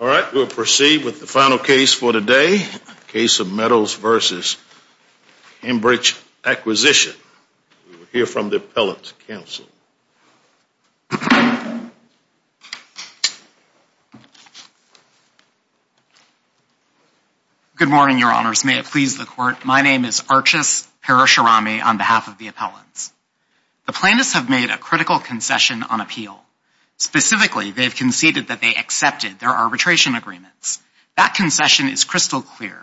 All right, we'll proceed with the final case for today. Case of Meadows versus Cambridge Acquisition. We'll hear from the appellant's counsel. Good morning, your honors. May it please the court, my name is Archus Parasharami on behalf of the appellants. The plaintiffs have made a critical concession on appeal. Specifically, they've conceded that they accepted their arbitration agreements. That concession is crystal clear.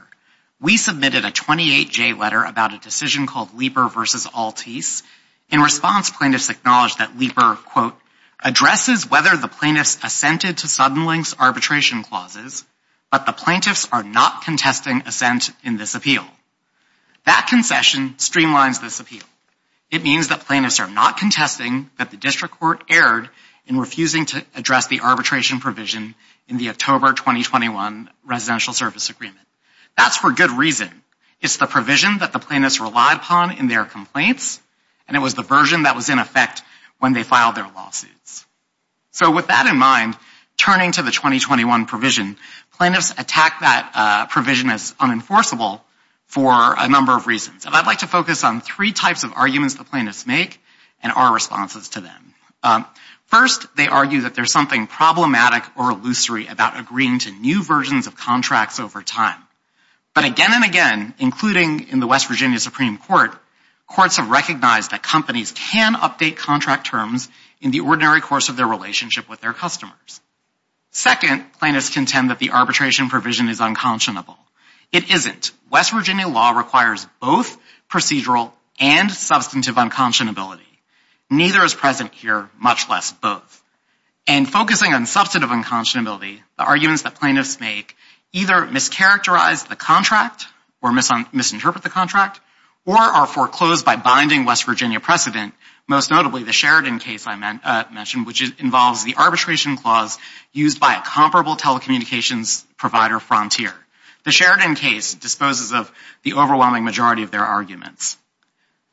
We submitted a 28-J letter about a decision called Leeper versus Altice. In response, plaintiffs acknowledged that Leeper, quote, addresses whether the plaintiffs assented to Suddenlink's arbitration clauses, but the plaintiffs are not contesting assent in this appeal. That concession streamlines this appeal. It means that plaintiffs are not contesting that district court erred in refusing to address the arbitration provision in the October 2021 Residential Service Agreement. That's for good reason. It's the provision that the plaintiffs relied upon in their complaints, and it was the version that was in effect when they filed their lawsuits. So with that in mind, turning to the 2021 provision, plaintiffs attack that provision as unenforceable for a number of reasons, and I'd like to focus on three types of arguments the plaintiffs make and our responses to them. First, they argue that there's something problematic or illusory about agreeing to new versions of contracts over time. But again and again, including in the West Virginia Supreme Court, courts have recognized that companies can update contract terms in the ordinary course of their relationship with their customers. Second, plaintiffs contend that the arbitration provision is unconscionable. It isn't. West Virginia law requires both procedural and substantive unconscionability. Neither is present here, much less both. And focusing on substantive unconscionability, the arguments that plaintiffs make either mischaracterize the contract or misinterpret the contract or are foreclosed by binding West Virginia precedent, most notably the Sheridan case I mentioned, which involves the arbitration clause used by a comparable telecommunications provider, Frontier. The Sheridan case disposes of the overwhelming majority of their arguments.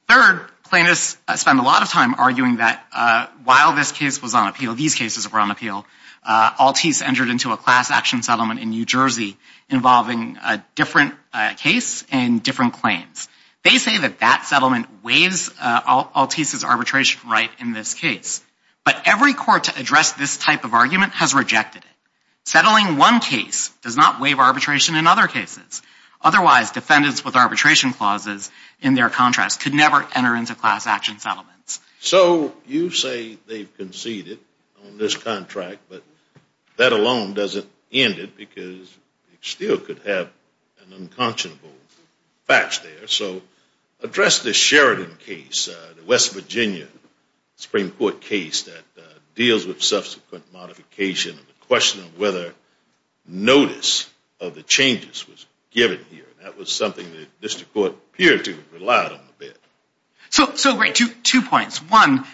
Third, plaintiffs spend a lot of time arguing that while this case was on appeal, these cases were on appeal, Altice entered into a class action settlement in New Jersey involving a different case and different claims. They say that that settlement weighs Altice's arbitration right in this case. But every court to address this type of argument has rejected it. Settling one case does not waive arbitration in other cases. Otherwise, defendants with arbitration clauses in their contracts could never enter into class action settlements. So you say they've conceded on this contract, but that alone doesn't end it because you still could have an unconscionable batch there. So address the Sheridan case, the West Virginia Supreme Court case that deals with modification and the question of whether notice of the changes was given here. That was something the district court appeared to have relied on a bit. So two points. One,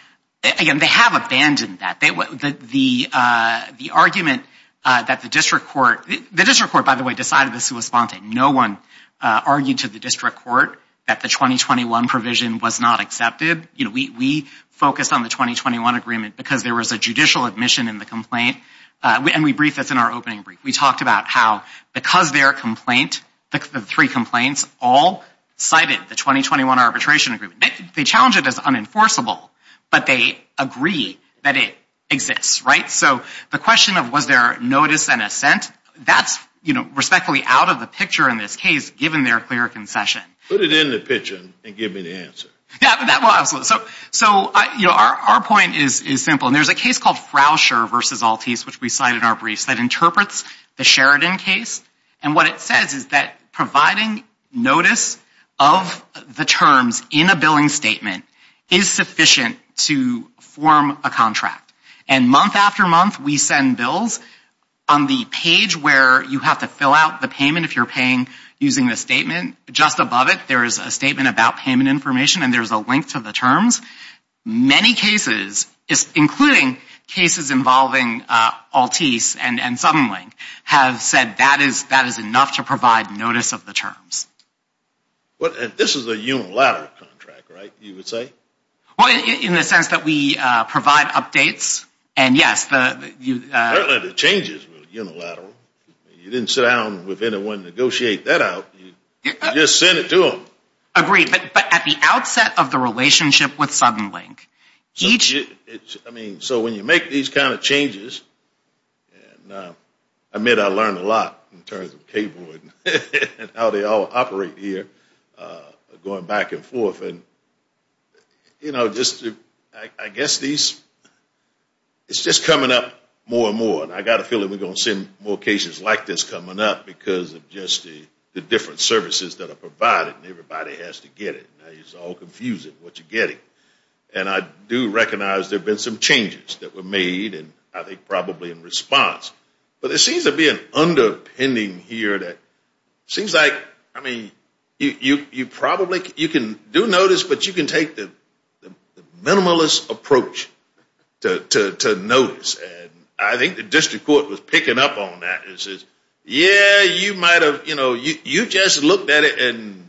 again, they have abandoned that. The argument that the district court, the district court, by the way, decided this was spontaneous. No one argued to the district court that the 2021 provision was not accepted. We focused on the 2021 agreement because there was a judicial admission in the complaint. And we briefed this in our opening brief. We talked about how because their complaint, the three complaints all cited the 2021 arbitration agreement, they challenge it as unenforceable, but they agree that it exists. Right. So the question of was there notice and assent, that's respectfully out of the picture in this case, given their clear concession. Put it in the picture and give me the answer. Yeah, absolutely. So our point is simple. And there's a case called Frousher v. Altice, which we cited in our briefs, that interprets the Sheridan case. And what it says is that providing notice of the terms in a billing statement is sufficient to form a contract. And month after month, we send bills on the page where you have to fill out the payment if you're paying using the statement. Just above it, there is a statement about payment information and there's a link to the terms. Many cases, including cases involving Altice and Suddenlink, have said that is enough to provide notice of the terms. This is a unilateral contract, right, you would say? Well, in the sense that we provide updates, and yes, the changes were unilateral. You didn't sit down with anyone and negotiate that out. You just sent it to them. Agreed. But at the outset of the relationship with Suddenlink, each, I mean, so when you make these kind of changes, and I admit I learned a lot in terms of cable and how they all operate here, going back and forth, and you know, just I guess these it's just coming up more and more. And I got a feeling we're going to see more cases like this coming up because of just the different services that are provided and everybody has to get it. Now it's all confusing what you're getting. And I do recognize there have been some changes that were made and I think probably in response. But it seems to be an underpinning here that seems like, I mean, you probably, you can do notice, but you can take the minimalist approach to notice. And I think the district court was picking up on that and says, yeah, you might have, you know, you just looked at it and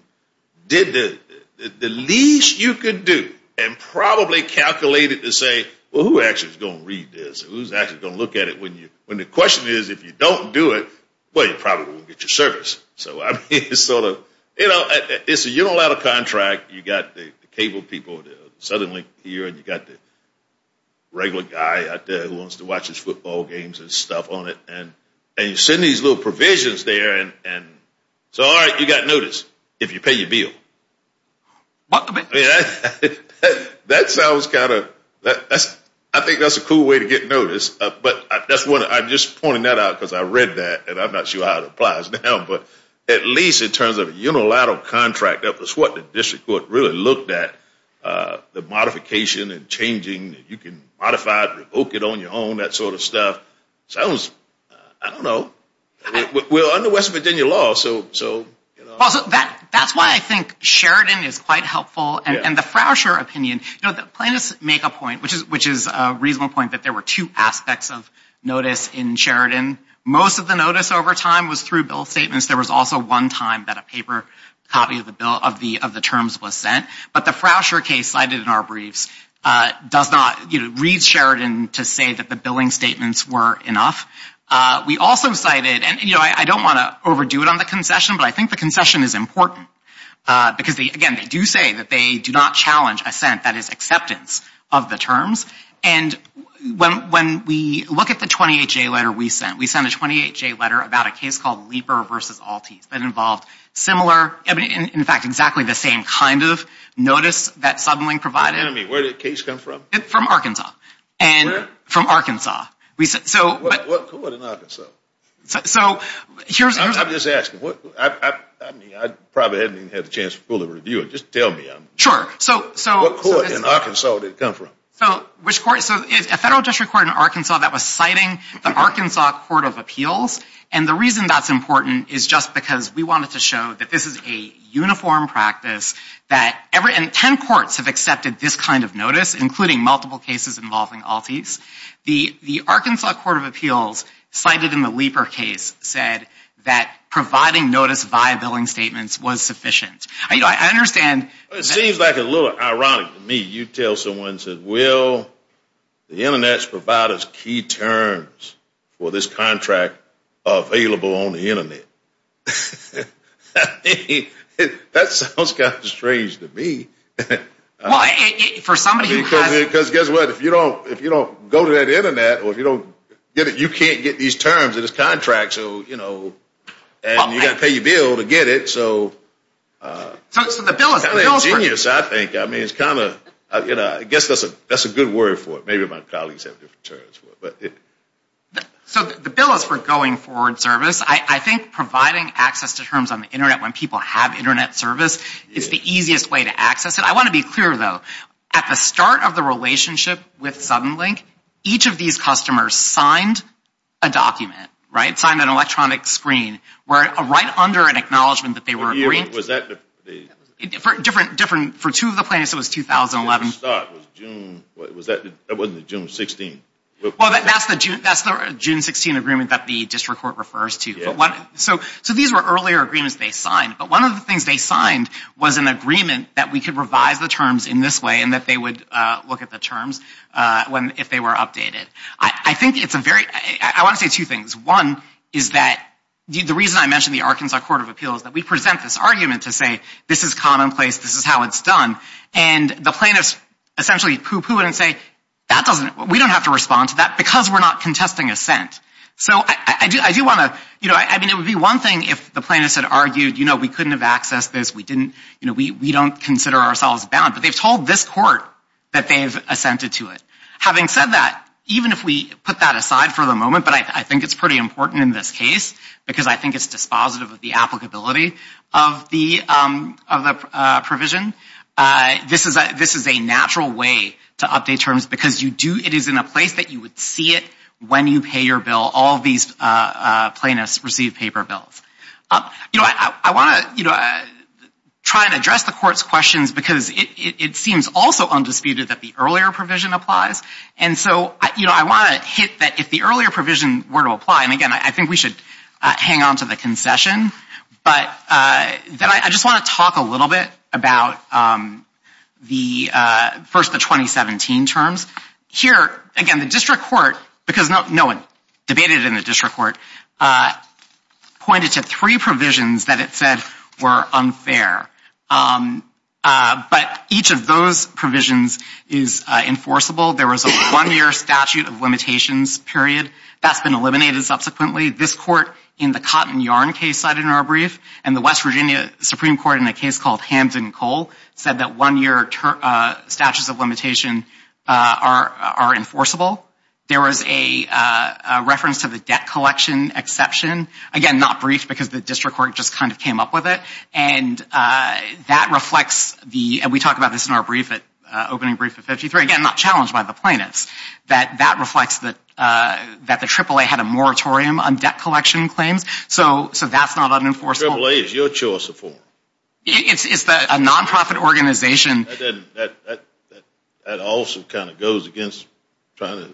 did the least you could do and probably calculated to say, well, who actually is going to read this? Who's actually going to look at it when you, when the question is, if you don't do it, well, you probably won't get your service. So I mean, it's sort of, you know, it's a, you don't have a contract. You got the cable people suddenly here and you got the regular guy out there who wants to watch his football games and stuff on it. And, and you send these little provisions there and, and so, all right, you got notice if you pay your bill. That sounds kind of, that's, I think that's a cool way to get notice, but that's what, I'm just pointing that out because I read that and I'm not sure how it at least in terms of a unilateral contract, that was what the district court really looked at, the modification and changing, you can modify it, revoke it on your own, that sort of stuff. Sounds, I don't know. We're under West Virginia law, so, so, you know. Also, that, that's why I think Sheridan is quite helpful and the Frasher opinion, you know, the plaintiffs make a point, which is, which is a reasonable point that there were two aspects of notice in Sheridan. Most of the notice over time was through bill statements. There was also one time that a paper copy of the bill, of the, of the terms was sent, but the Frasher case cited in our briefs does not, you know, read Sheridan to say that the billing statements were enough. We also cited, and, you know, I don't want to overdo it on the concession, but I think the concession is important because they, again, they do say that they do not challenge assent, that is acceptance of the terms. And when, when we look at the 28-J letter we sent, we sent a 28-J letter about a case called Leeper v. Altice that involved similar, in fact, exactly the same kind of notice that Southerling provided. Wait a minute, where did the case come from? It's from Arkansas. And where? From Arkansas. We said, so. What, what court in Arkansas? So, so, here's. I'm just asking, what, I, I, I mean, I probably haven't even had the chance to fully review it. Just tell me. Sure. So, so. What court in Arkansas did it come from? So, which court? So, it's a federal district court in Arkansas that was citing the Arkansas Court of Appeals. And the reason that's important is just because we wanted to show that this is a uniform practice that every, and 10 courts have accepted this kind of notice, including multiple cases involving Altice. The, the Arkansas Court of Appeals cited in the Leeper case said that providing notice via billing statements was sufficient. I, you know, I understand. It seems like a little ironic to me. You tell someone, said, well, the internet's provided us key terms for this contract available on the internet. That sounds kind of strange to me. Well, for somebody who has. Because guess what? If you don't, if you don't go to that internet, or if you don't get it, you can't get these terms of this contract. So, you know, and you got to pay your bill to get it. So. So, so the bill is, the bill is for. It's kind of ingenious, I think. I mean, it's kind of, you know, I guess that's a, that's a good word for it. Maybe my colleagues have different terms for it. But it. So, the bill is for going forward service. I, I think providing access to terms on the internet when people have internet service is the easiest way to access it. I want to be clear, though. At the start of the relationship with Suddenlink, each of these customers signed a document, right, signed an electronic screen, were right under an acknowledgment that they were agreed. Was that the. For different, different, for two of the plaintiffs, it was 2011. The start was June, was that, that wasn't June 16. Well, that's the June, that's the June 16 agreement that the district court refers to. But what, so, so these were earlier agreements they signed. But one of the things they signed was an agreement that we could revise the terms in this way and that they would look at the terms. When, if they were updated. I, I think it's a very, I want to say two things. One is that, the reason I mentioned the Arkansas Court of Appeals, that we present this argument to say, this is commonplace, this is how it's done. And the plaintiffs essentially poo-poo it and say, that doesn't, we don't have to respond to that because we're not contesting assent. So, I do, I do want to, you know, I mean, it would be one thing if the plaintiffs had argued, you know, we couldn't have accessed this, we didn't, you know, we, we don't consider ourselves bound. But they've told this court that they've assented to it. Having said that, even if we put that aside for the moment, but I think it's pretty important in this case because I think it's dispositive of the applicability of the, of the provision. This is a, this is a natural way to update terms because you do, it is in a place that you would see it when you pay your bill. All these plaintiffs receive paper bills. You know, I, I want to, you know, try and address the court's questions because it, it seems also undisputed that the earlier provision applies. And so, you know, I want to hit that if the earlier provision were to apply, and again, I think we should hang on to the concession, but then I just want to talk a little bit about the first, the 2017 terms. Here, again, the district court, because no one debated in the district court, pointed to three provisions that it said were unfair. But each of those provisions is enforceable. There was a one-year statute of limitations period. That's been eliminated subsequently. This court in the Cotton Yarn case cited in our brief, and the West Virginia Supreme Court in a case called Hampton Coal said that one-year statutes of limitation are, are enforceable. There was a reference to the debt collection exception. Again, not briefed because the district court just kind of came up with it. And that reflects the, and we talked about this in our brief at, opening brief at 53, again, not challenged by the plaintiffs, that that reflects that, that the AAA had a moratorium on debt collection claims. So, so that's not unenforceable. AAA is your choice of form. It's, it's a non-profit organization. That, that, that also kind of goes against trying to,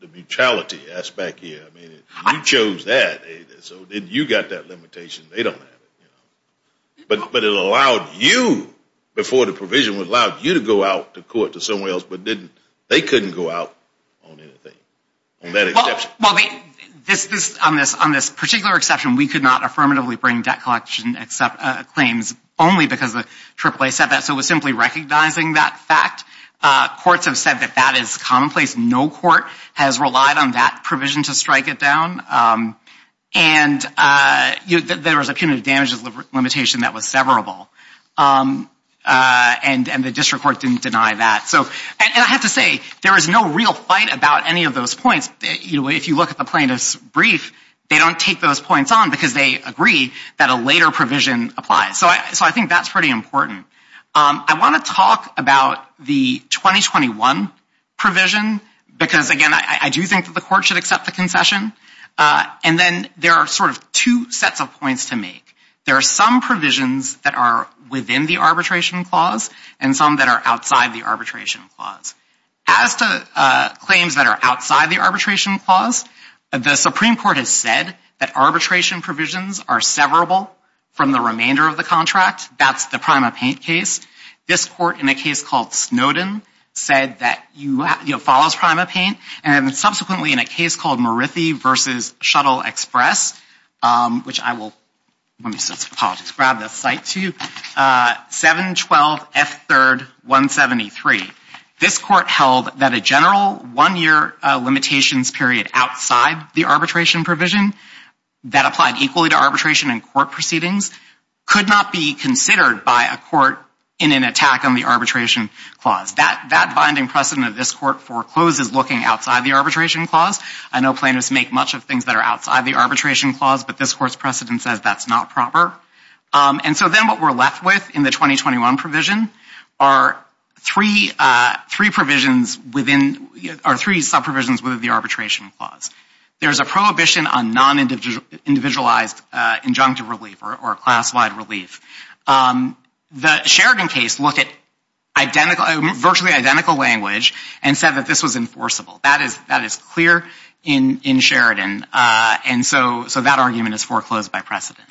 the mutuality aspect here. I mean, you chose that, so then you got that limitation. They don't have it, you know. But, but it allowed you, before the provision would allow you to go out to court to somewhere else, but didn't, they couldn't go out on anything, on that exception. Well, this, this, on this, on this particular exception, we could not affirmatively bring debt collection except, claims only because the AAA said that. So it was simply recognizing that fact. Courts have said that that is commonplace. No court has relied on that provision to strike it down. And you, there was a punitive damages limitation that was severable. And, and the district court didn't deny that. So, and I have to say, there is no real fight about any of those points. You know, if you look at the plaintiff's brief, they don't take those points on, because they agree that a later provision applies. So I, so I think that's pretty important. I want to talk about the 2021 provision, because again, I do think that the court should accept the concession. And then there are sort of two sets of points to make. There are some provisions that are within the arbitration clause, and some that are outside the arbitration clause. As to claims that are outside the arbitration clause, the Supreme Court has said that arbitration provisions are severable from the remainder of the contract. That's the PrimaPaint case. This court, in a case called Snowden, said that you have, you know, follows PrimaPaint. And subsequently in a case called Morithy v. Shuttle Express, which I will, let me, apologies, grab the site to you, 712F3rd173. This court held that a general one-year limitations period outside the arbitration provision that applied equally to arbitration and court proceedings could not be considered by a court in an attack on the arbitration clause. That, that binding precedent of this court forecloses looking outside the arbitration clause. I know plaintiffs make much of things that are outside the arbitration clause, but this court's precedent says that's not proper. And so then what we're left with in the 2021 provision are three provisions within, or three sub-provisions within the arbitration clause. There's a prohibition on non-individualized injunctive relief or classified relief. The Sheridan case looked at identical, virtually identical language and said that this was enforceable. That is clear in Sheridan. And so that argument is foreclosed by precedent.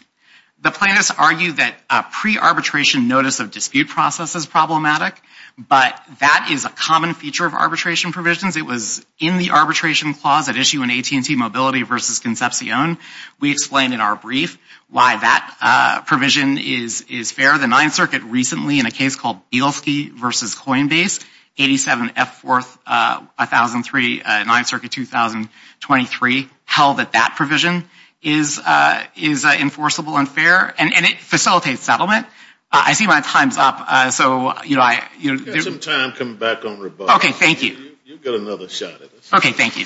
The plaintiffs argue that a pre-arbitration notice of dispute process is problematic, but that is a common feature of arbitration provisions. It was in the arbitration clause at issue in AT&T Mobility v. Concepcion. We explained in our brief why that provision is, is fair. The Ninth Circuit recently, in a case called Bielski v. Coinbase, 87F41003, Ninth Circuit 2023, held that that provision is, is enforceable and fair. And it facilitates settlement. I see my time's up. So, you know, I, you know. We've got some time coming back on rebuttal. Okay, thank you. You've got another shot at this. Okay, thank you.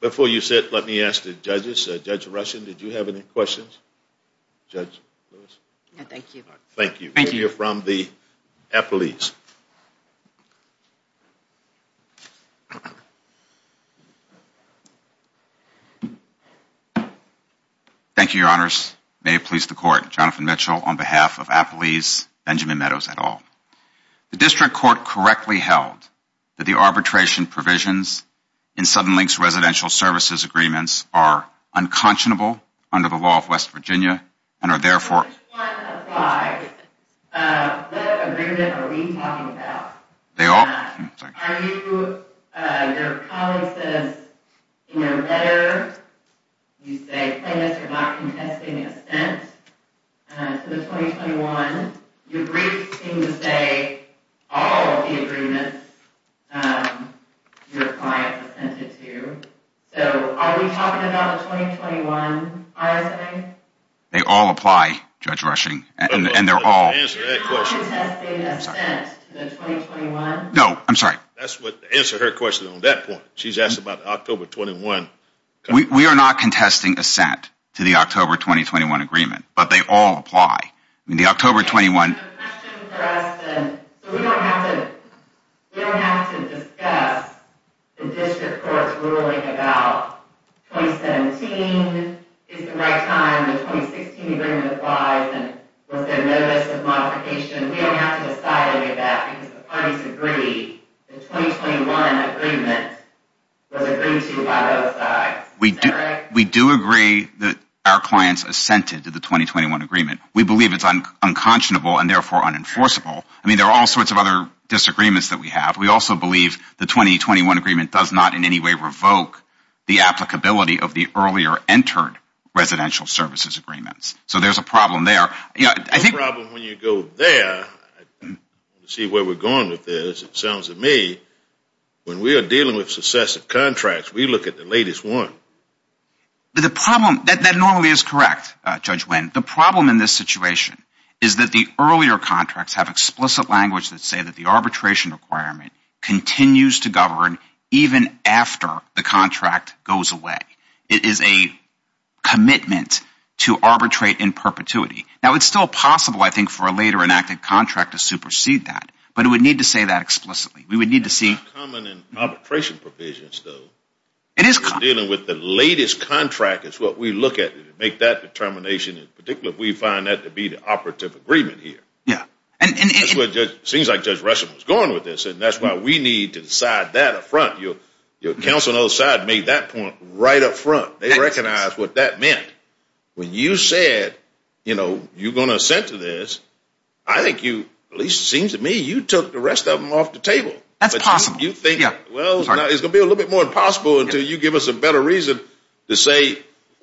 Before you sit, let me ask the judges. Judge Rushin, did you have any questions? Judge Lewis? No, thank you. Thank you. We'll hear from the appellees. Thank you, your honors. May it please the court. Jonathan Mitchell on behalf of appellees, Benjamin Meadows et al. The district court correctly held that the arbitration provisions in Suddenlink's residential services agreements are unconscionable under the law of West Virginia and are therefore... If one applies, what agreement are we talking about? Are you, your colleague says, in your letter, you say plaintiffs are not contesting assent to the 2021. Your briefs seem to say all of the agreements your client assented to. So are we talking about the 2021 RSA? No, I'm sorry. That's what, answer her question on that point. She's asked about October 21. We are not contesting assent to the October 2021 agreement, but they all apply. I mean the October 21. We don't have to discuss the district court's ruling about 2017 is the right time. The 2016 agreement applies and was there notice of modification? We don't have to decide any of that because the parties agree the 2021 agreement was agreed to by both sides. We do agree that our clients assented to the 2021 agreement. We believe it's unconscionable and therefore unenforceable. I mean, there are all sorts of other disagreements that we have. We also believe the 2021 agreement does not in any way revoke the applicability of the earlier entered residential services agreements. So there's a problem there. Yeah, I think when you go there, see where we're going with this, it sounds to me when we are dealing with successive contracts, we look at the latest one. But the problem, that normally is correct, Judge Wynn, the problem in this situation is that the earlier contracts have explicit language that say that the arbitration requirement continues to govern even after the contract goes away. It is a commitment to arbitrate in perpetuity. Now it's still possible, I think, for a later enacted contract to supersede that, but it would need to say that explicitly. We would need to see. It's not common in arbitration provisions, though. It is common. Dealing with the latest contract is what we look at to make that determination. In particular, we find that to be the operative agreement here. Yeah. It seems like Judge Russell was going with this and that's why we need to decide that up front. Your counsel on the other side made that point right up front. They recognized what that meant. When you said, you know, you're going to assent to this, I think you, at least it seems to me, you took the rest of them off the table. That's possible. You think, well, it's going to be a little bit more impossible until you give us a better reason to say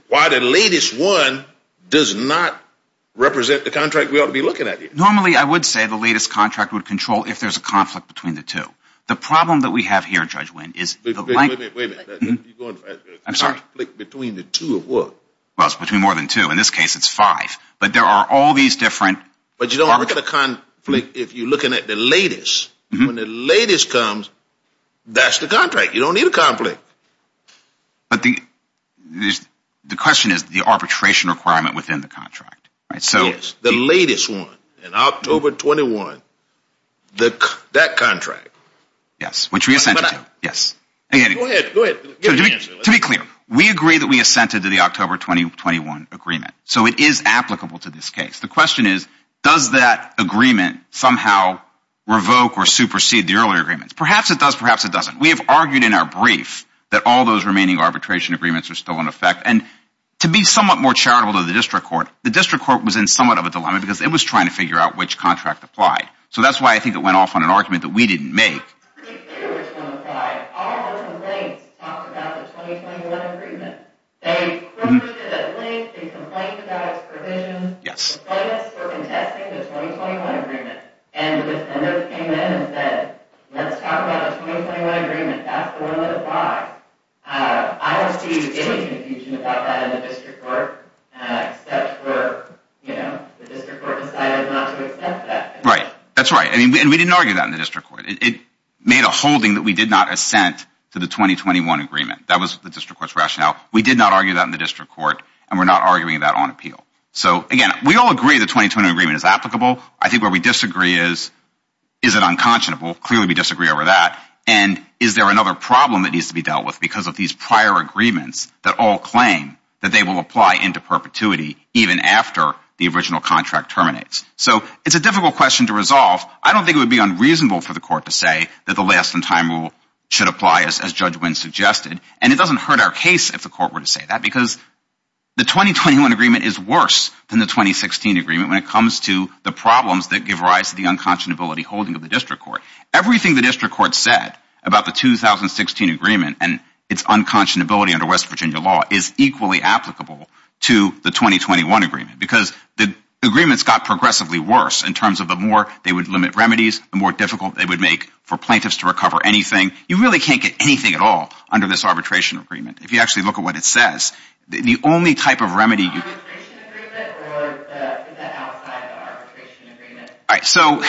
why the latest one does not represent the contract we ought to be looking at here. Normally, I would say the latest contract would control if there's a conflict between the two. The problem that we have here, Judge Wynn, is the... Wait a minute. I'm sorry. Between the two of what? Well, it's between more than two. In this case, it's five. But there are all these different... But you don't look at a conflict if you're looking at the latest. When the latest comes, that's the contract. You don't need a conflict. But the question is the arbitration requirement within the contract, right? Yes, the latest one in October 21, that contract. Yes, which we assented to. Yes. Go ahead. To be clear, we agree that we assented to the October 2021 agreement. So it is applicable to this case. The question is, does that agreement somehow revoke or supersede the earlier agreements? Perhaps it does. Perhaps it doesn't. We have argued in our brief that all those remaining arbitration agreements are still in effect. And to be somewhat more charitable to the district court, the district court was in somewhat of a dilemma because it was trying to figure out which contract applied. So that's why I think it went off on an argument that we didn't make. Which one applied? All those complaints talked about the 2021 agreement. They confronted it at length. They complained about its provisions. Yes. Complained us for contesting the 2021 agreement. And the defender came in and said, let's talk about the 2021 agreement. That's the one that applies. I don't see any confusion about that in the district court, except for the district court decided not to accept that. Right. That's right. And we didn't argue that in the district court. It made a holding that we did not assent to the 2021 agreement. That was the district court's rationale. We did not argue that in the district court, and we're not arguing that on appeal. So again, we all agree the 2021 agreement is applicable. I think where we disagree is, is it unconscionable? Clearly, we disagree over that. And is there another problem that needs to be dealt with because of these prior agreements that all claim that they will apply into perpetuity even after the original contract terminates? So it's a difficult question to resolve. I don't think it would be unreasonable for the court to say that the last in time rule should apply as Judge Wynn suggested. And it doesn't hurt our case if the court were to say that because the 2021 agreement is worse than the 2016 agreement when it comes to the problems that give rise to the unconscionability holding of the district court. Everything the district court said about the 2016 agreement and its unconscionability under West Virginia law is equally applicable to the 2021 agreement because the agreements got progressively worse in terms of the more they would limit remedies, the more difficult it would make for plaintiffs to recover anything. You really can't get anything at all under this arbitration agreement. If you actually look at what it says, the only type of remedy... Is it an arbitration agreement or is it outside the arbitration agreement? So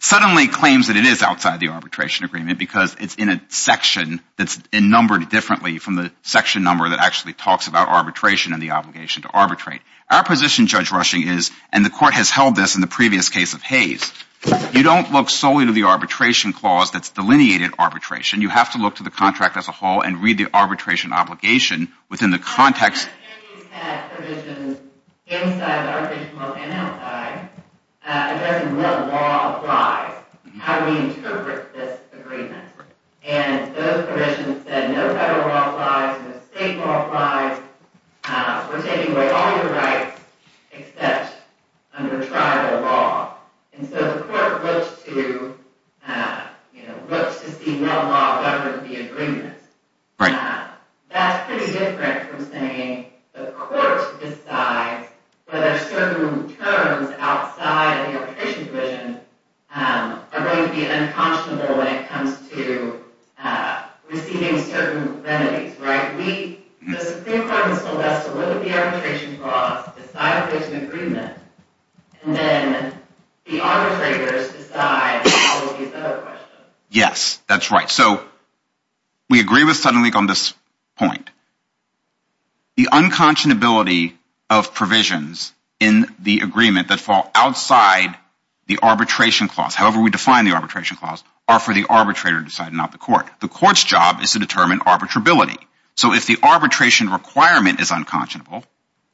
suddenly claims that it is outside the arbitration agreement because it's in a section that's numbered differently from the section number that actually talks about arbitration and the obligation to arbitrate. Our position, Judge Rushing, is and the court has held this in the previous case of Hayes, you don't look solely to the arbitration clause that's delineated arbitration. You have to look to the contract as a whole and read the arbitration obligation within the context... The attorneys had provisions inside the arbitration law panel, right, addressing what law applies, how we interpret this agreement. And those provisions said no federal law applies, no state law applies, we're taking away all your rights except under tribal law. And so the court looks to, you know, looks to see what law governs the That's pretty different from saying the court decides whether certain terms outside the arbitration division are going to be unconscionable when it comes to receiving certain remedies, right? The Supreme Court has told us to look at the arbitration clause, decide if it's an agreement, and then the arbitrators decide how it will be settled. Yes, that's right. So we agree with SuddenLeak on this point. The unconscionability of provisions in the agreement that fall outside the arbitration clause, however we define the arbitration clause, are for the arbitrator to decide, not the court. The court's job is to determine arbitrability. So if the arbitration requirement is unconscionable,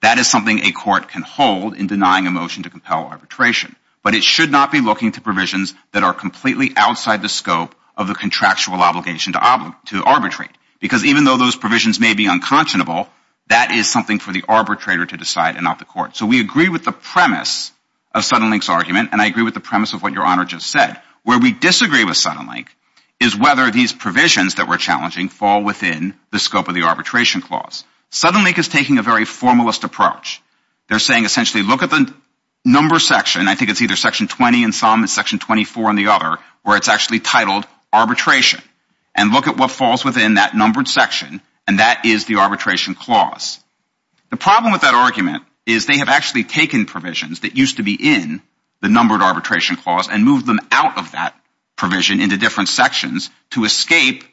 that is something a court can hold in denying a motion to compel arbitration. But it should not be looking to provisions that are completely outside the scope of the contractual obligation to arbitrate. Because even though those provisions may be unconscionable, that is something for the arbitrator to decide and not the court. So we agree with the premise of SuddenLeak's argument, and I agree with the premise of what Your Honor just said. Where we disagree with SuddenLeak is whether these provisions that we're challenging fall within the scope of the arbitration clause. SuddenLeak is taking a very formalist approach. They're saying essentially look at the number section, I think it's either section 20 and some and section 24 and the other, where it's actually titled arbitration. And look at what falls within that numbered section, and that is the arbitration clause. The problem with that argument is they have actually taken provisions that used to be in the numbered arbitration clause and moved them out of that provision into different sections to escape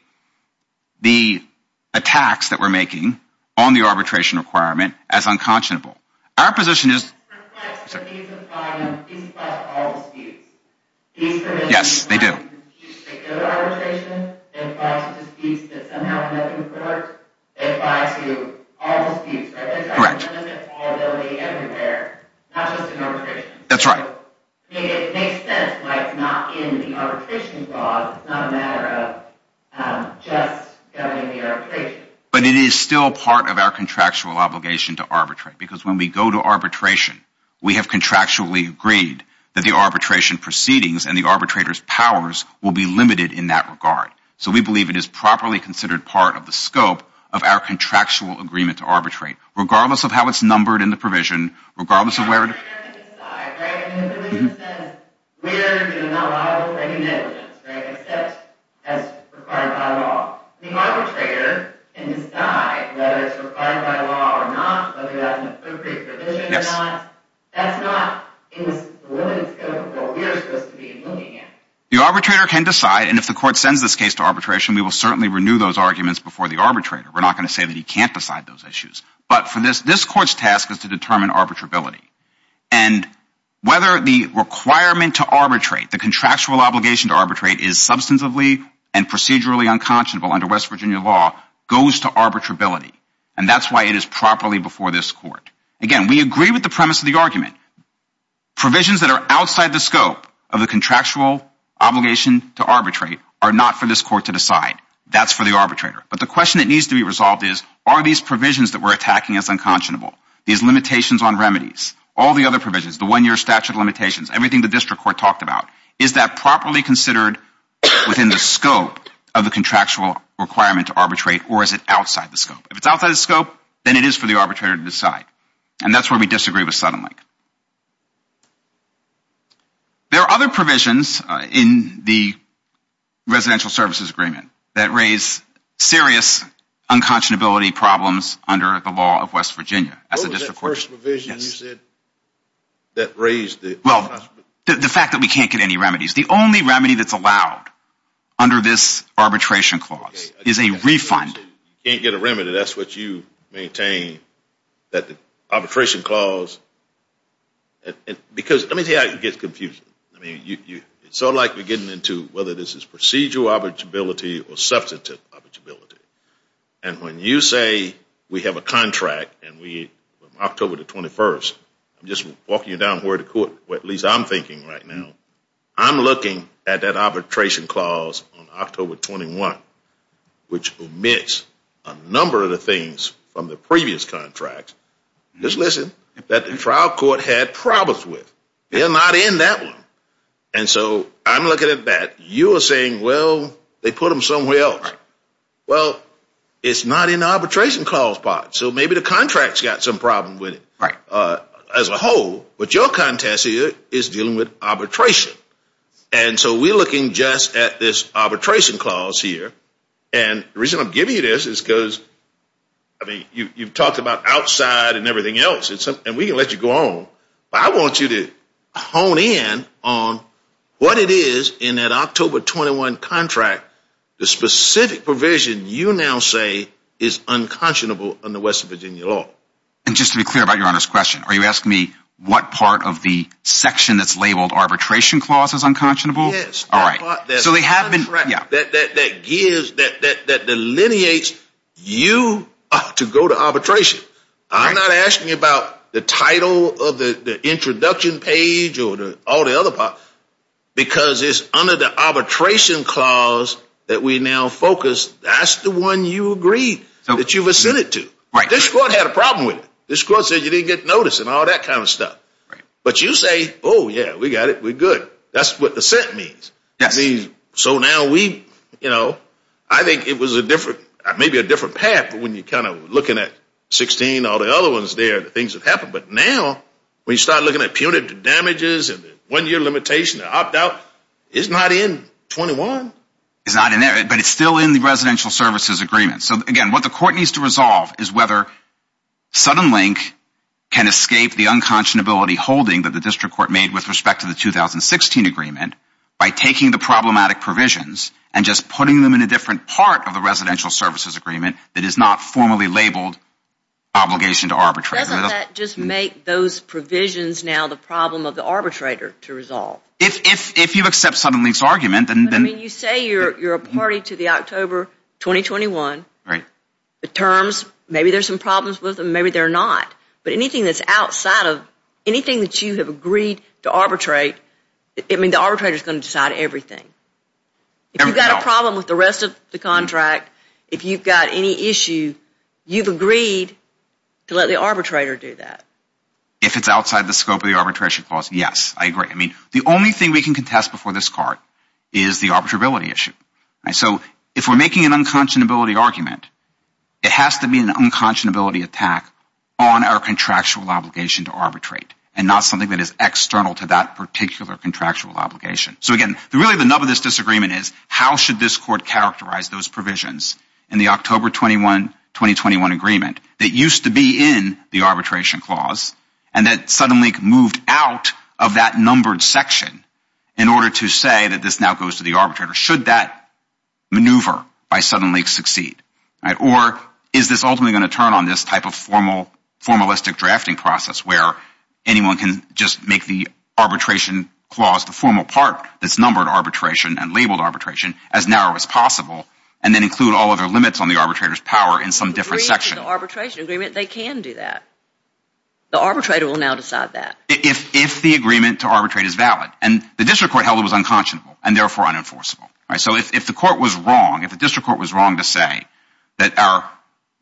the attacks that we're making on the arbitration requirement as unconscionable. Our position is Yes, they do. But it is still part of our contractual obligation to arbitrate. Because when we go to arbitration, we have contractually agreed that the arbitration proceedings and the arbitrator's powers will be limited in that regard. So we believe it is properly considered part of the scope of our contractual agreement to arbitrate. Regardless of how it's numbered in the provision, regardless of The arbitrator can decide whether it's required by law or not, whether that's an appropriate provision or not. That's not in the scope of what we're supposed to be looking at. The arbitrator can decide, and if the court sends this case to arbitration, we will certainly renew those arguments before the arbitrator. We're not going to say that he can't decide those issues. But for this, this court's task is to determine arbitrability. And whether the requirement to arbitrate, the contractual obligation to arbitrate, is substantively and procedurally unconscionable under West Virginia law goes to arbitrability. And that's why it is properly before this court. Again, we agree with the premise of the argument. Provisions that are outside the scope of the contractual obligation to arbitrate are not for this court to decide. That's for the arbitrator. But the question that needs to be resolved is, are these provisions that we're attacking as unconscionable, these limitations on remedies, all the other provisions, the one-year statute of limitations, everything the district court talked about, is that properly considered within the scope of the contractual requirement to arbitrate, or is it outside the scope? If it's outside the scope, then it is for the arbitrator to decide. And that's where we disagree with Suddenlink. There are other provisions in the Residential Services Agreement that raise serious unconscionability problems under the law of West Virginia as a district court. What was that first provision you said that raised the unconscionability? Well, the fact that we can't get any remedies. The only remedy that's allowed under this arbitration clause is a refund. You can't get a remedy. That's what you maintain, that the arbitration clause Because let me tell you how it gets confusing. I mean, it's sort of like we're getting into whether this is procedural arbitrability or substantive arbitrability. And when you say we have a contract and we, from October the 21st, I'm just walking you down the road to court, or at least I'm thinking right now, I'm looking at that arbitration clause on October 21, which omits a number of the things from the previous contract. Just listen, that the trial court had problems with. They're not in that one. And so I'm looking at that. You are saying, well, they put them somewhere else. Well, it's not in the arbitration clause part. So maybe the contract's got some problem with it as a whole. But your contest here is dealing with arbitration. And so we're looking just at this arbitration clause here. And the reason I'm giving you this is because, I mean, you've talked about outside and everything else, and we can let you go on. But I want you to hone in on what it is in that October 21 contract, the specific provision you now say is unconscionable under Western Virginia law. And just to be clear about Your Honor's question, are you asking me what part of the section that's labeled arbitration clause is unconscionable? Yes. All right. So they have been, yeah. That gives, that delineates you to go to arbitration. I'm not asking you about the title of the introduction page or all the other part, because it's under the arbitration clause that we now focus. That's the one you agreed that you've assented to. Right. This court had a problem with it. This court said you didn't get notice and all that kind of stuff. Right. But you say, oh, yeah, we got it. We're good. That's what assent means. So now we, you know, I think it was a different, maybe a different path when you're kind of looking at 16, all the other ones there, the things that happened. But now when you start looking at punitive damages and the one-year limitation, the opt out, it's not in 21. It's not in there, but it's still in the residential services agreement. So again, what the court needs to resolve is whether Suddenlink can escape the unconscionability holding that the district court made with respect to the 2016 agreement by taking the problematic provisions and just putting them in a different part of the residential services agreement that is not formally labeled obligation to arbitrate. Doesn't that just make those provisions now the problem of the arbitrator to resolve? If you accept Suddenlink's argument, then. I mean, you say you're a party to the October 2021. Right. The terms, maybe there's some problems with them. Maybe they're not. But anything that's outside of anything that you have agreed to arbitrate, I mean, the arbitrator is going to decide everything. If you've got a problem with the rest of the contract, if you've got any issue, you've agreed to let the arbitrator do that. If it's outside the scope of the arbitration clause, yes, I agree. I mean, the only thing we can contest before this court is the arbitrability issue. So if we're making an unconscionability argument, it has to be an unconscionability attack on our contractual obligation to arbitrate and not something that is external to that particular contractual obligation. So, again, really the nub of this disagreement is how should this court characterize those provisions in the October 2021 agreement that used to be in the arbitration clause and that Suddenlink moved out of that numbered section in order to say that this now goes to the arbitrator? Should that maneuver by Suddenlink succeed? Or is this ultimately going to turn on this type of formal formalistic drafting process where anyone can just make the arbitration clause, the formal part that's numbered arbitration and labeled arbitration as narrow as possible and then include all other limits on the arbitrator's power in some different section? If they agree to the arbitration agreement, they can do that. The arbitrator will now decide that. If the agreement to arbitrate is valid and the district court held it was unconscionable and therefore unenforceable. So if the court was wrong, if the district court was wrong to say that our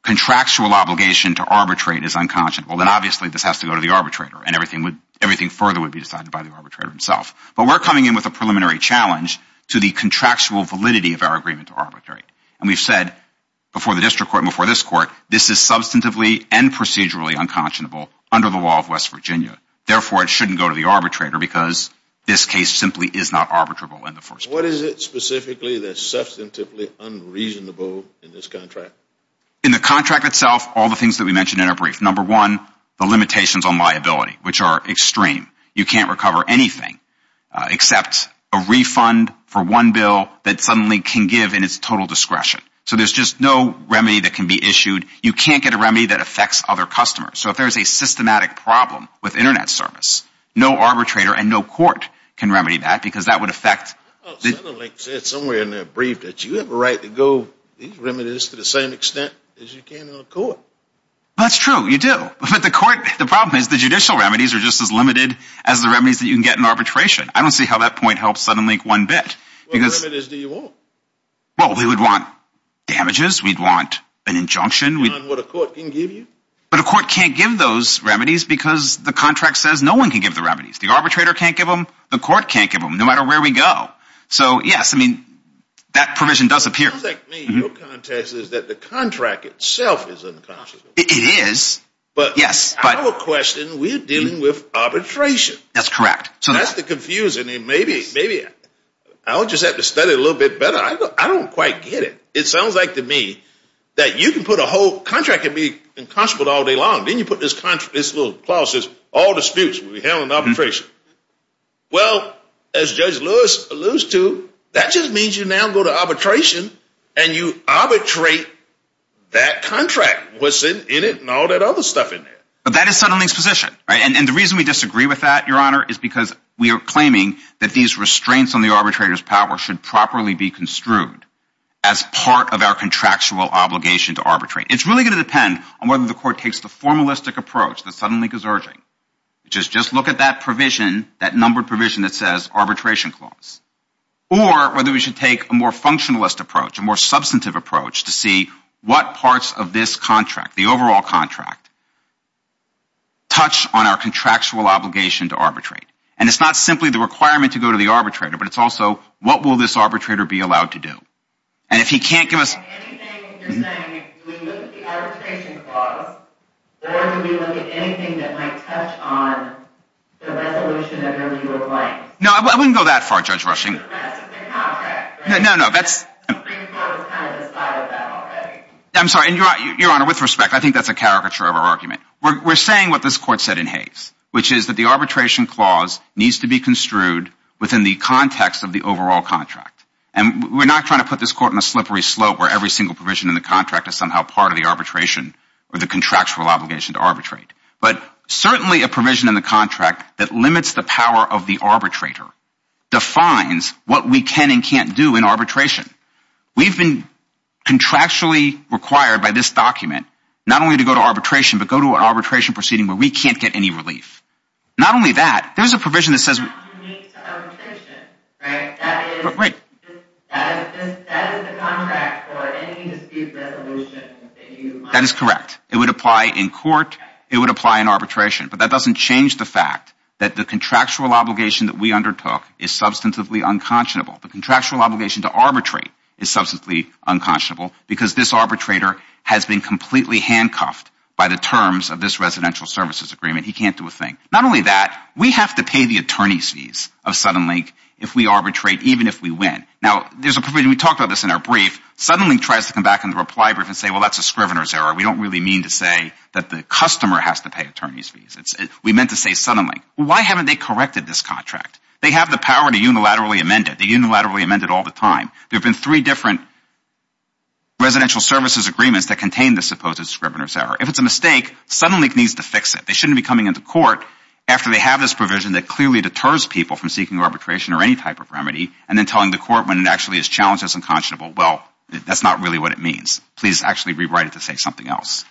contractual obligation to arbitrate is unconscionable, then obviously this has to go to the arbitrator and everything further would be decided by the arbitrator himself. But we're coming in with a preliminary challenge to the contractual validity of our agreement to arbitrate. And we've said before the district court and before this court, this is substantively and procedurally unconscionable under the law of West Virginia. Therefore, it shouldn't go to the arbitrator because this case simply is not arbitrable in the first place. What is it specifically that's substantively unreasonable in this contract? In the contract itself, all the things that we mentioned in our brief. Number one, the limitations on liability, which are extreme. You can't recover anything except a refund for one bill that suddenly can give in its total discretion. So there's just no remedy that can be issued. You can't get a remedy that affects other customers. So if there's a systematic problem with internet service, no arbitrator and no court can remedy that because that would affect. I thought Suddenlink said somewhere in their brief that you have a right to go these remedies to the same extent as you can in a court. That's true. You do. But the court, the problem is the judicial remedies are just as limited as the remedies that you can get in arbitration. I don't see how that point helps Suddenlink one bit. What remedies do you want? Well, we would want damages. We'd want an injunction. We'd want what a court can give you. But a court can't give those remedies because the contract says no one can give the remedies. The arbitrator can't give them. The court can't give them, no matter where we go. So yes, I mean, that provision does appear. It sounds like to me your context is that the contract itself is unconscionable. It is. But our question, we're dealing with arbitration. That's correct. So that's the confusing thing. Maybe I'll just have to study it a little bit better. I don't quite get it. It sounds like to me that you can put a whole contract can be unconscionable all day long. Then you put this little clause that says all disputes will be handled in arbitration. Well, as Judge Lewis alludes to, that just means you now go to arbitration and you arbitrate that contract, what's in it, and all that other stuff in there. But that is Suddenlink's position. And the reason we disagree with that, Your Honor, is because we are claiming that these restraints on the arbitrator's power should properly be construed as part of our contractual obligation to arbitrate. It's really going to depend on whether the Court takes the formalistic approach that Suddenlink is urging, which is just look at that provision, that numbered provision that says arbitration clause, or whether we should take a more functionalist approach, a more substantive approach to see what parts of this contract, the overall contract, touch on our contractual obligation to arbitrate. And it's not simply the requirement to go to the arbitrator, but it's also what will this arbitrator be allowed to do. And if he can't give us... Anything you're saying, do we look at the arbitration clause, or do we look at anything that might touch on the resolution of your legal claims? No, I wouldn't go that far, Judge Rushing. That's just a contract, right? No, no, that's... The Supreme Court has kind of decided that already. I'm sorry. And Your Honor, with respect, I think that's a caricature of our argument. We're saying what this Court said in Hayes, which is that the arbitration clause needs to be construed within the context of the overall contract. And we're not trying to put this Court in a slippery slope where every single provision in the contract is somehow part of the arbitration or the contractual obligation to arbitrate. But certainly a provision in the contract that limits the power of the arbitrator defines what we can and can't do in arbitration. We've been contractually required by this document not only to go to arbitration, but go to an arbitration proceeding where we can't get any relief. Not only that, there's a provision that says... That is correct. It would apply in court. It would apply in arbitration. But that doesn't change the fact that the contractual obligation that we undertook is substantively unconscionable. The contractual obligation to arbitrate is substantively unconscionable because this arbitrator has been completely handcuffed by the terms of this residential services agreement. He can't do a thing. Not only that, we have to pay the attorney's fees of Suddenlink if we arbitrate, even if we win. Now, there's a provision... We talked about this in our brief. Suddenlink tries to come back in the reply brief and say, well, that's a scrivener's error. We don't really mean to say that the customer has to pay attorney's fees. We meant to say Suddenlink. Why haven't they corrected this contract? They have the power to unilaterally amend it. They unilaterally amend it all the time. There have been three different residential services agreements that contain the supposed scrivener's error. If it's a mistake, Suddenlink needs to fix it. They shouldn't be coming into court after they have this provision that clearly deters people from seeking arbitration or any type of remedy and then telling the court when it actually is challenged as unconscionable, well, that's not really what it means. Please actually rewrite it to say something else.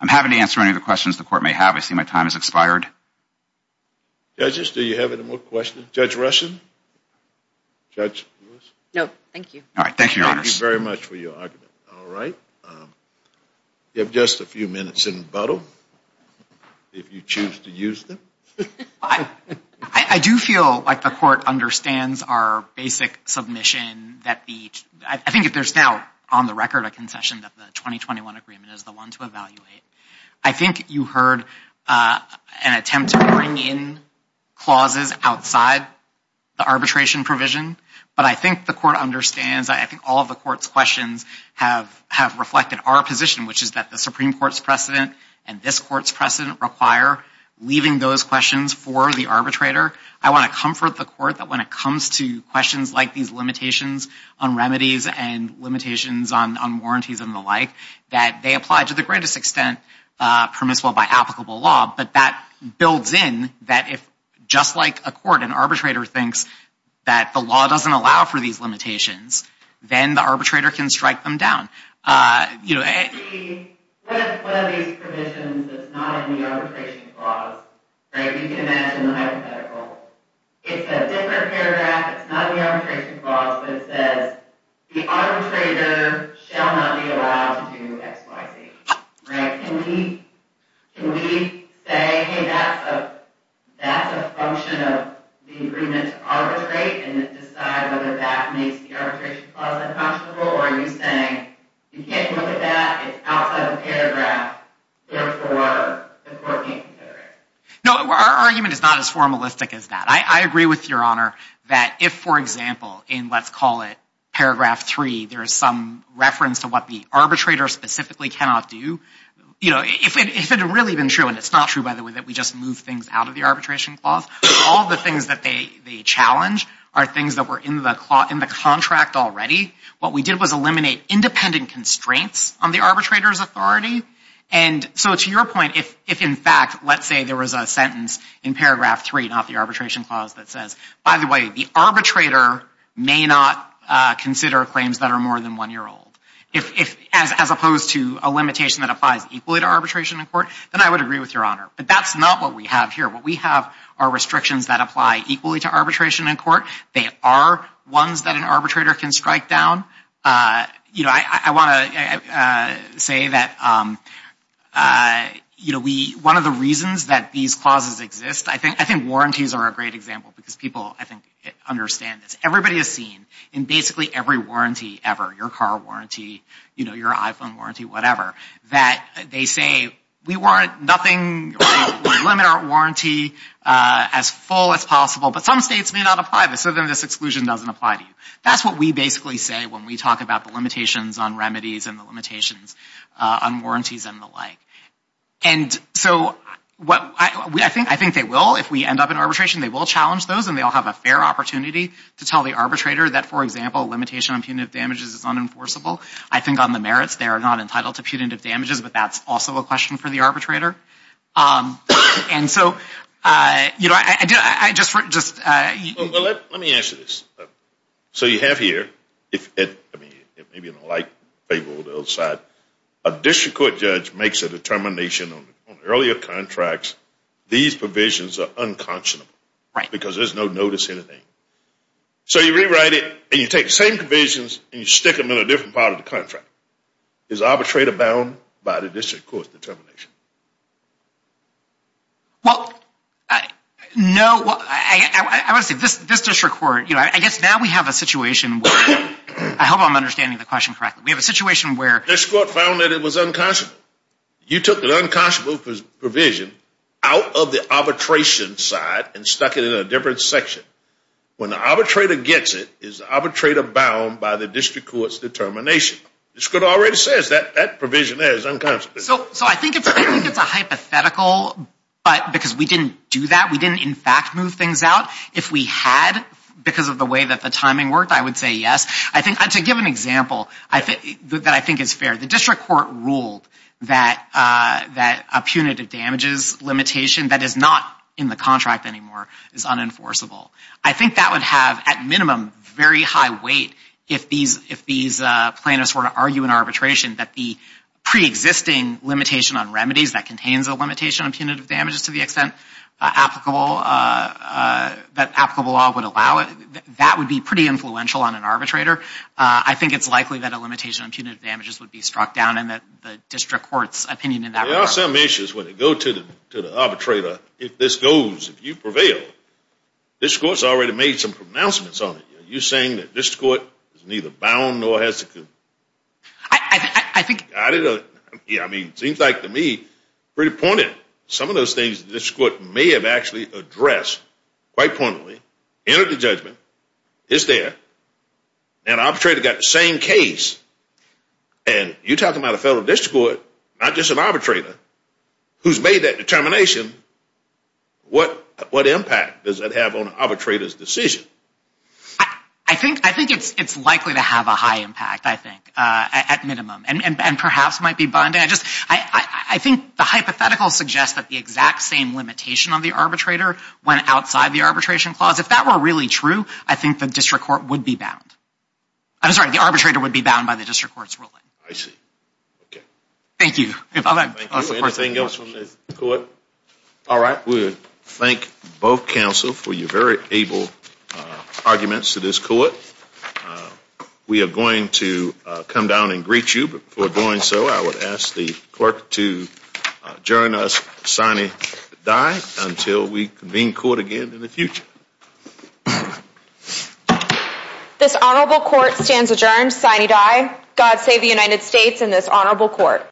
I'm happy to answer any other questions the court may have. I see my time has expired. Judges, do you have any more questions? Judge Russin? Judge Lewis? No, thank you. All right, thank you, Your Honors. Thank you very much for your argument. All right. You have just a few minutes in the bottle. If you choose to use them. I do feel like the court understands our basic submission that the, I think if there's now on the record a concession that the 2021 agreement is the one to evaluate. I think you heard an attempt to bring in clauses outside the arbitration provision. But I think the court understands. I think all of the court's questions have reflected our position, which is that the Supreme Court's precedent and this court's precedent require leaving those questions for the arbitrator. I want to comfort the court that when it comes to questions like these limitations on remedies and limitations on warranties and the like, that they apply to the greatest extent permissible by applicable law. But that builds in that if just like a court, an arbitrator thinks that the law doesn't allow for these limitations, then the arbitrator can strike them down. What are these provisions that's not in the arbitration clause? You can imagine the hypothetical. It's a different paragraph. It's not the arbitration clause, but it says, the arbitrator shall not be allowed to do X, Y, Z. Can we say, hey, that's a function of the agreement to arbitrate and decide whether that makes the arbitration clause unconscionable? Or are you saying, you can't look at that. It's outside the paragraph. Therefore, the court can't consider it. No, our argument is not as formalistic as that. I agree with your honor that if, for example, in let's call it paragraph three, there is some reference to what the arbitrator specifically cannot do. You know, if it had really been true, and it's not true, by the way, that we just move things out of the arbitration clause, all the things that they challenge are things that were in the contract already. What we did was eliminate independent constraints on the arbitrator's authority. And so to your point, if in fact, let's say there was a sentence in paragraph three, not the arbitration clause, that says, by the way, the arbitrator may not consider claims that are more than one year old. If as opposed to a limitation that applies equally to arbitration in court, then I would agree with your honor. But that's not what we have here. What we have are restrictions that apply equally to arbitration in court. They are ones that an arbitrator can strike down. You know, I want to say that, you know, we, one of the reasons that these clauses exist, I think warranties are a great example because people, I think, understand this. Everybody has seen in basically every warranty ever, your car warranty, you know, your iPhone warranty, whatever, that they say, we warrant nothing, we limit our warranty as full as possible. But some states may not apply this, so then this exclusion doesn't apply to you. That's what we basically say when we talk about the limitations on remedies and the limitations on warranties and the like. And so what I think they will, if we end up in arbitration, they will challenge those and they'll have a fair opportunity to tell the arbitrator that, for example, limitation on punitive damages is unenforceable. I think on the merits, they are not entitled to punitive damages, but that's also a question for the arbitrator. And so, you know, I just want to just... Well, let me answer this. So you have here, I mean, maybe you don't like the other side, a district court judge makes a determination on earlier contracts, these provisions are unconscionable. Right. Because there's no notice or anything. So you rewrite it and you take the same provisions and you stick them in a different part of the contract. Is the arbitrator bound by the district court's determination? Well, no, I want to say this district court, you know, I guess now we have a situation where... I hope I'm understanding the question correctly. We have a situation where... This court found that it was unconscionable. You took the unconscionable provision out of the arbitration side and stuck it in a different section. When the arbitrator gets it, is the arbitrator bound by the district court's determination? This court already says that that provision is unconscionable. So I think it's a hypothetical, because we didn't do that. We didn't, in fact, move things out. If we had, because of the way that the timing worked, I would say yes. I think to give an example that I think is fair, the district court ruled that a punitive damages limitation that is not in the contract anymore is unenforceable. I think that would have, at minimum, very high weight if these plaintiffs were to argue in arbitration that the pre-existing limitation on remedies that contains a limitation on punitive damages to the extent applicable, that applicable law would allow it, that would be pretty influential on an arbitrator. I think it's likely that a limitation on punitive damages would be struck down in the district court's opinion in that regard. There are some issues when it goes to the arbitrator. If this goes, if you prevail, this court's already made some pronouncements on it. You're saying that this court is neither bound nor has to... I think... Yeah, I mean, it seems like to me, pretty pointed. Some of those things, this court may have actually addressed quite poignantly, entered the judgment, is there, and arbitrator got the same case. And you're talking about a fellow district court, not just an arbitrator, who's made that determination. What impact does that have on an arbitrator's decision? I think it's likely to have a high impact. At minimum, and perhaps might be bonded. I think the hypothetical suggests that the exact same limitation on the arbitrator went outside the arbitration clause. If that were really true, I think the district court would be bound. I'm sorry, the arbitrator would be bound by the district court's ruling. I see. Okay. Thank you. All right, we thank both counsel for your very able arguments to this court. Uh, we are going to come down and greet you. But before doing so, I would ask the clerk to adjourn us sine die until we convene court again in the future. This honorable court stands adjourned sine die. God save the United States and this honorable court.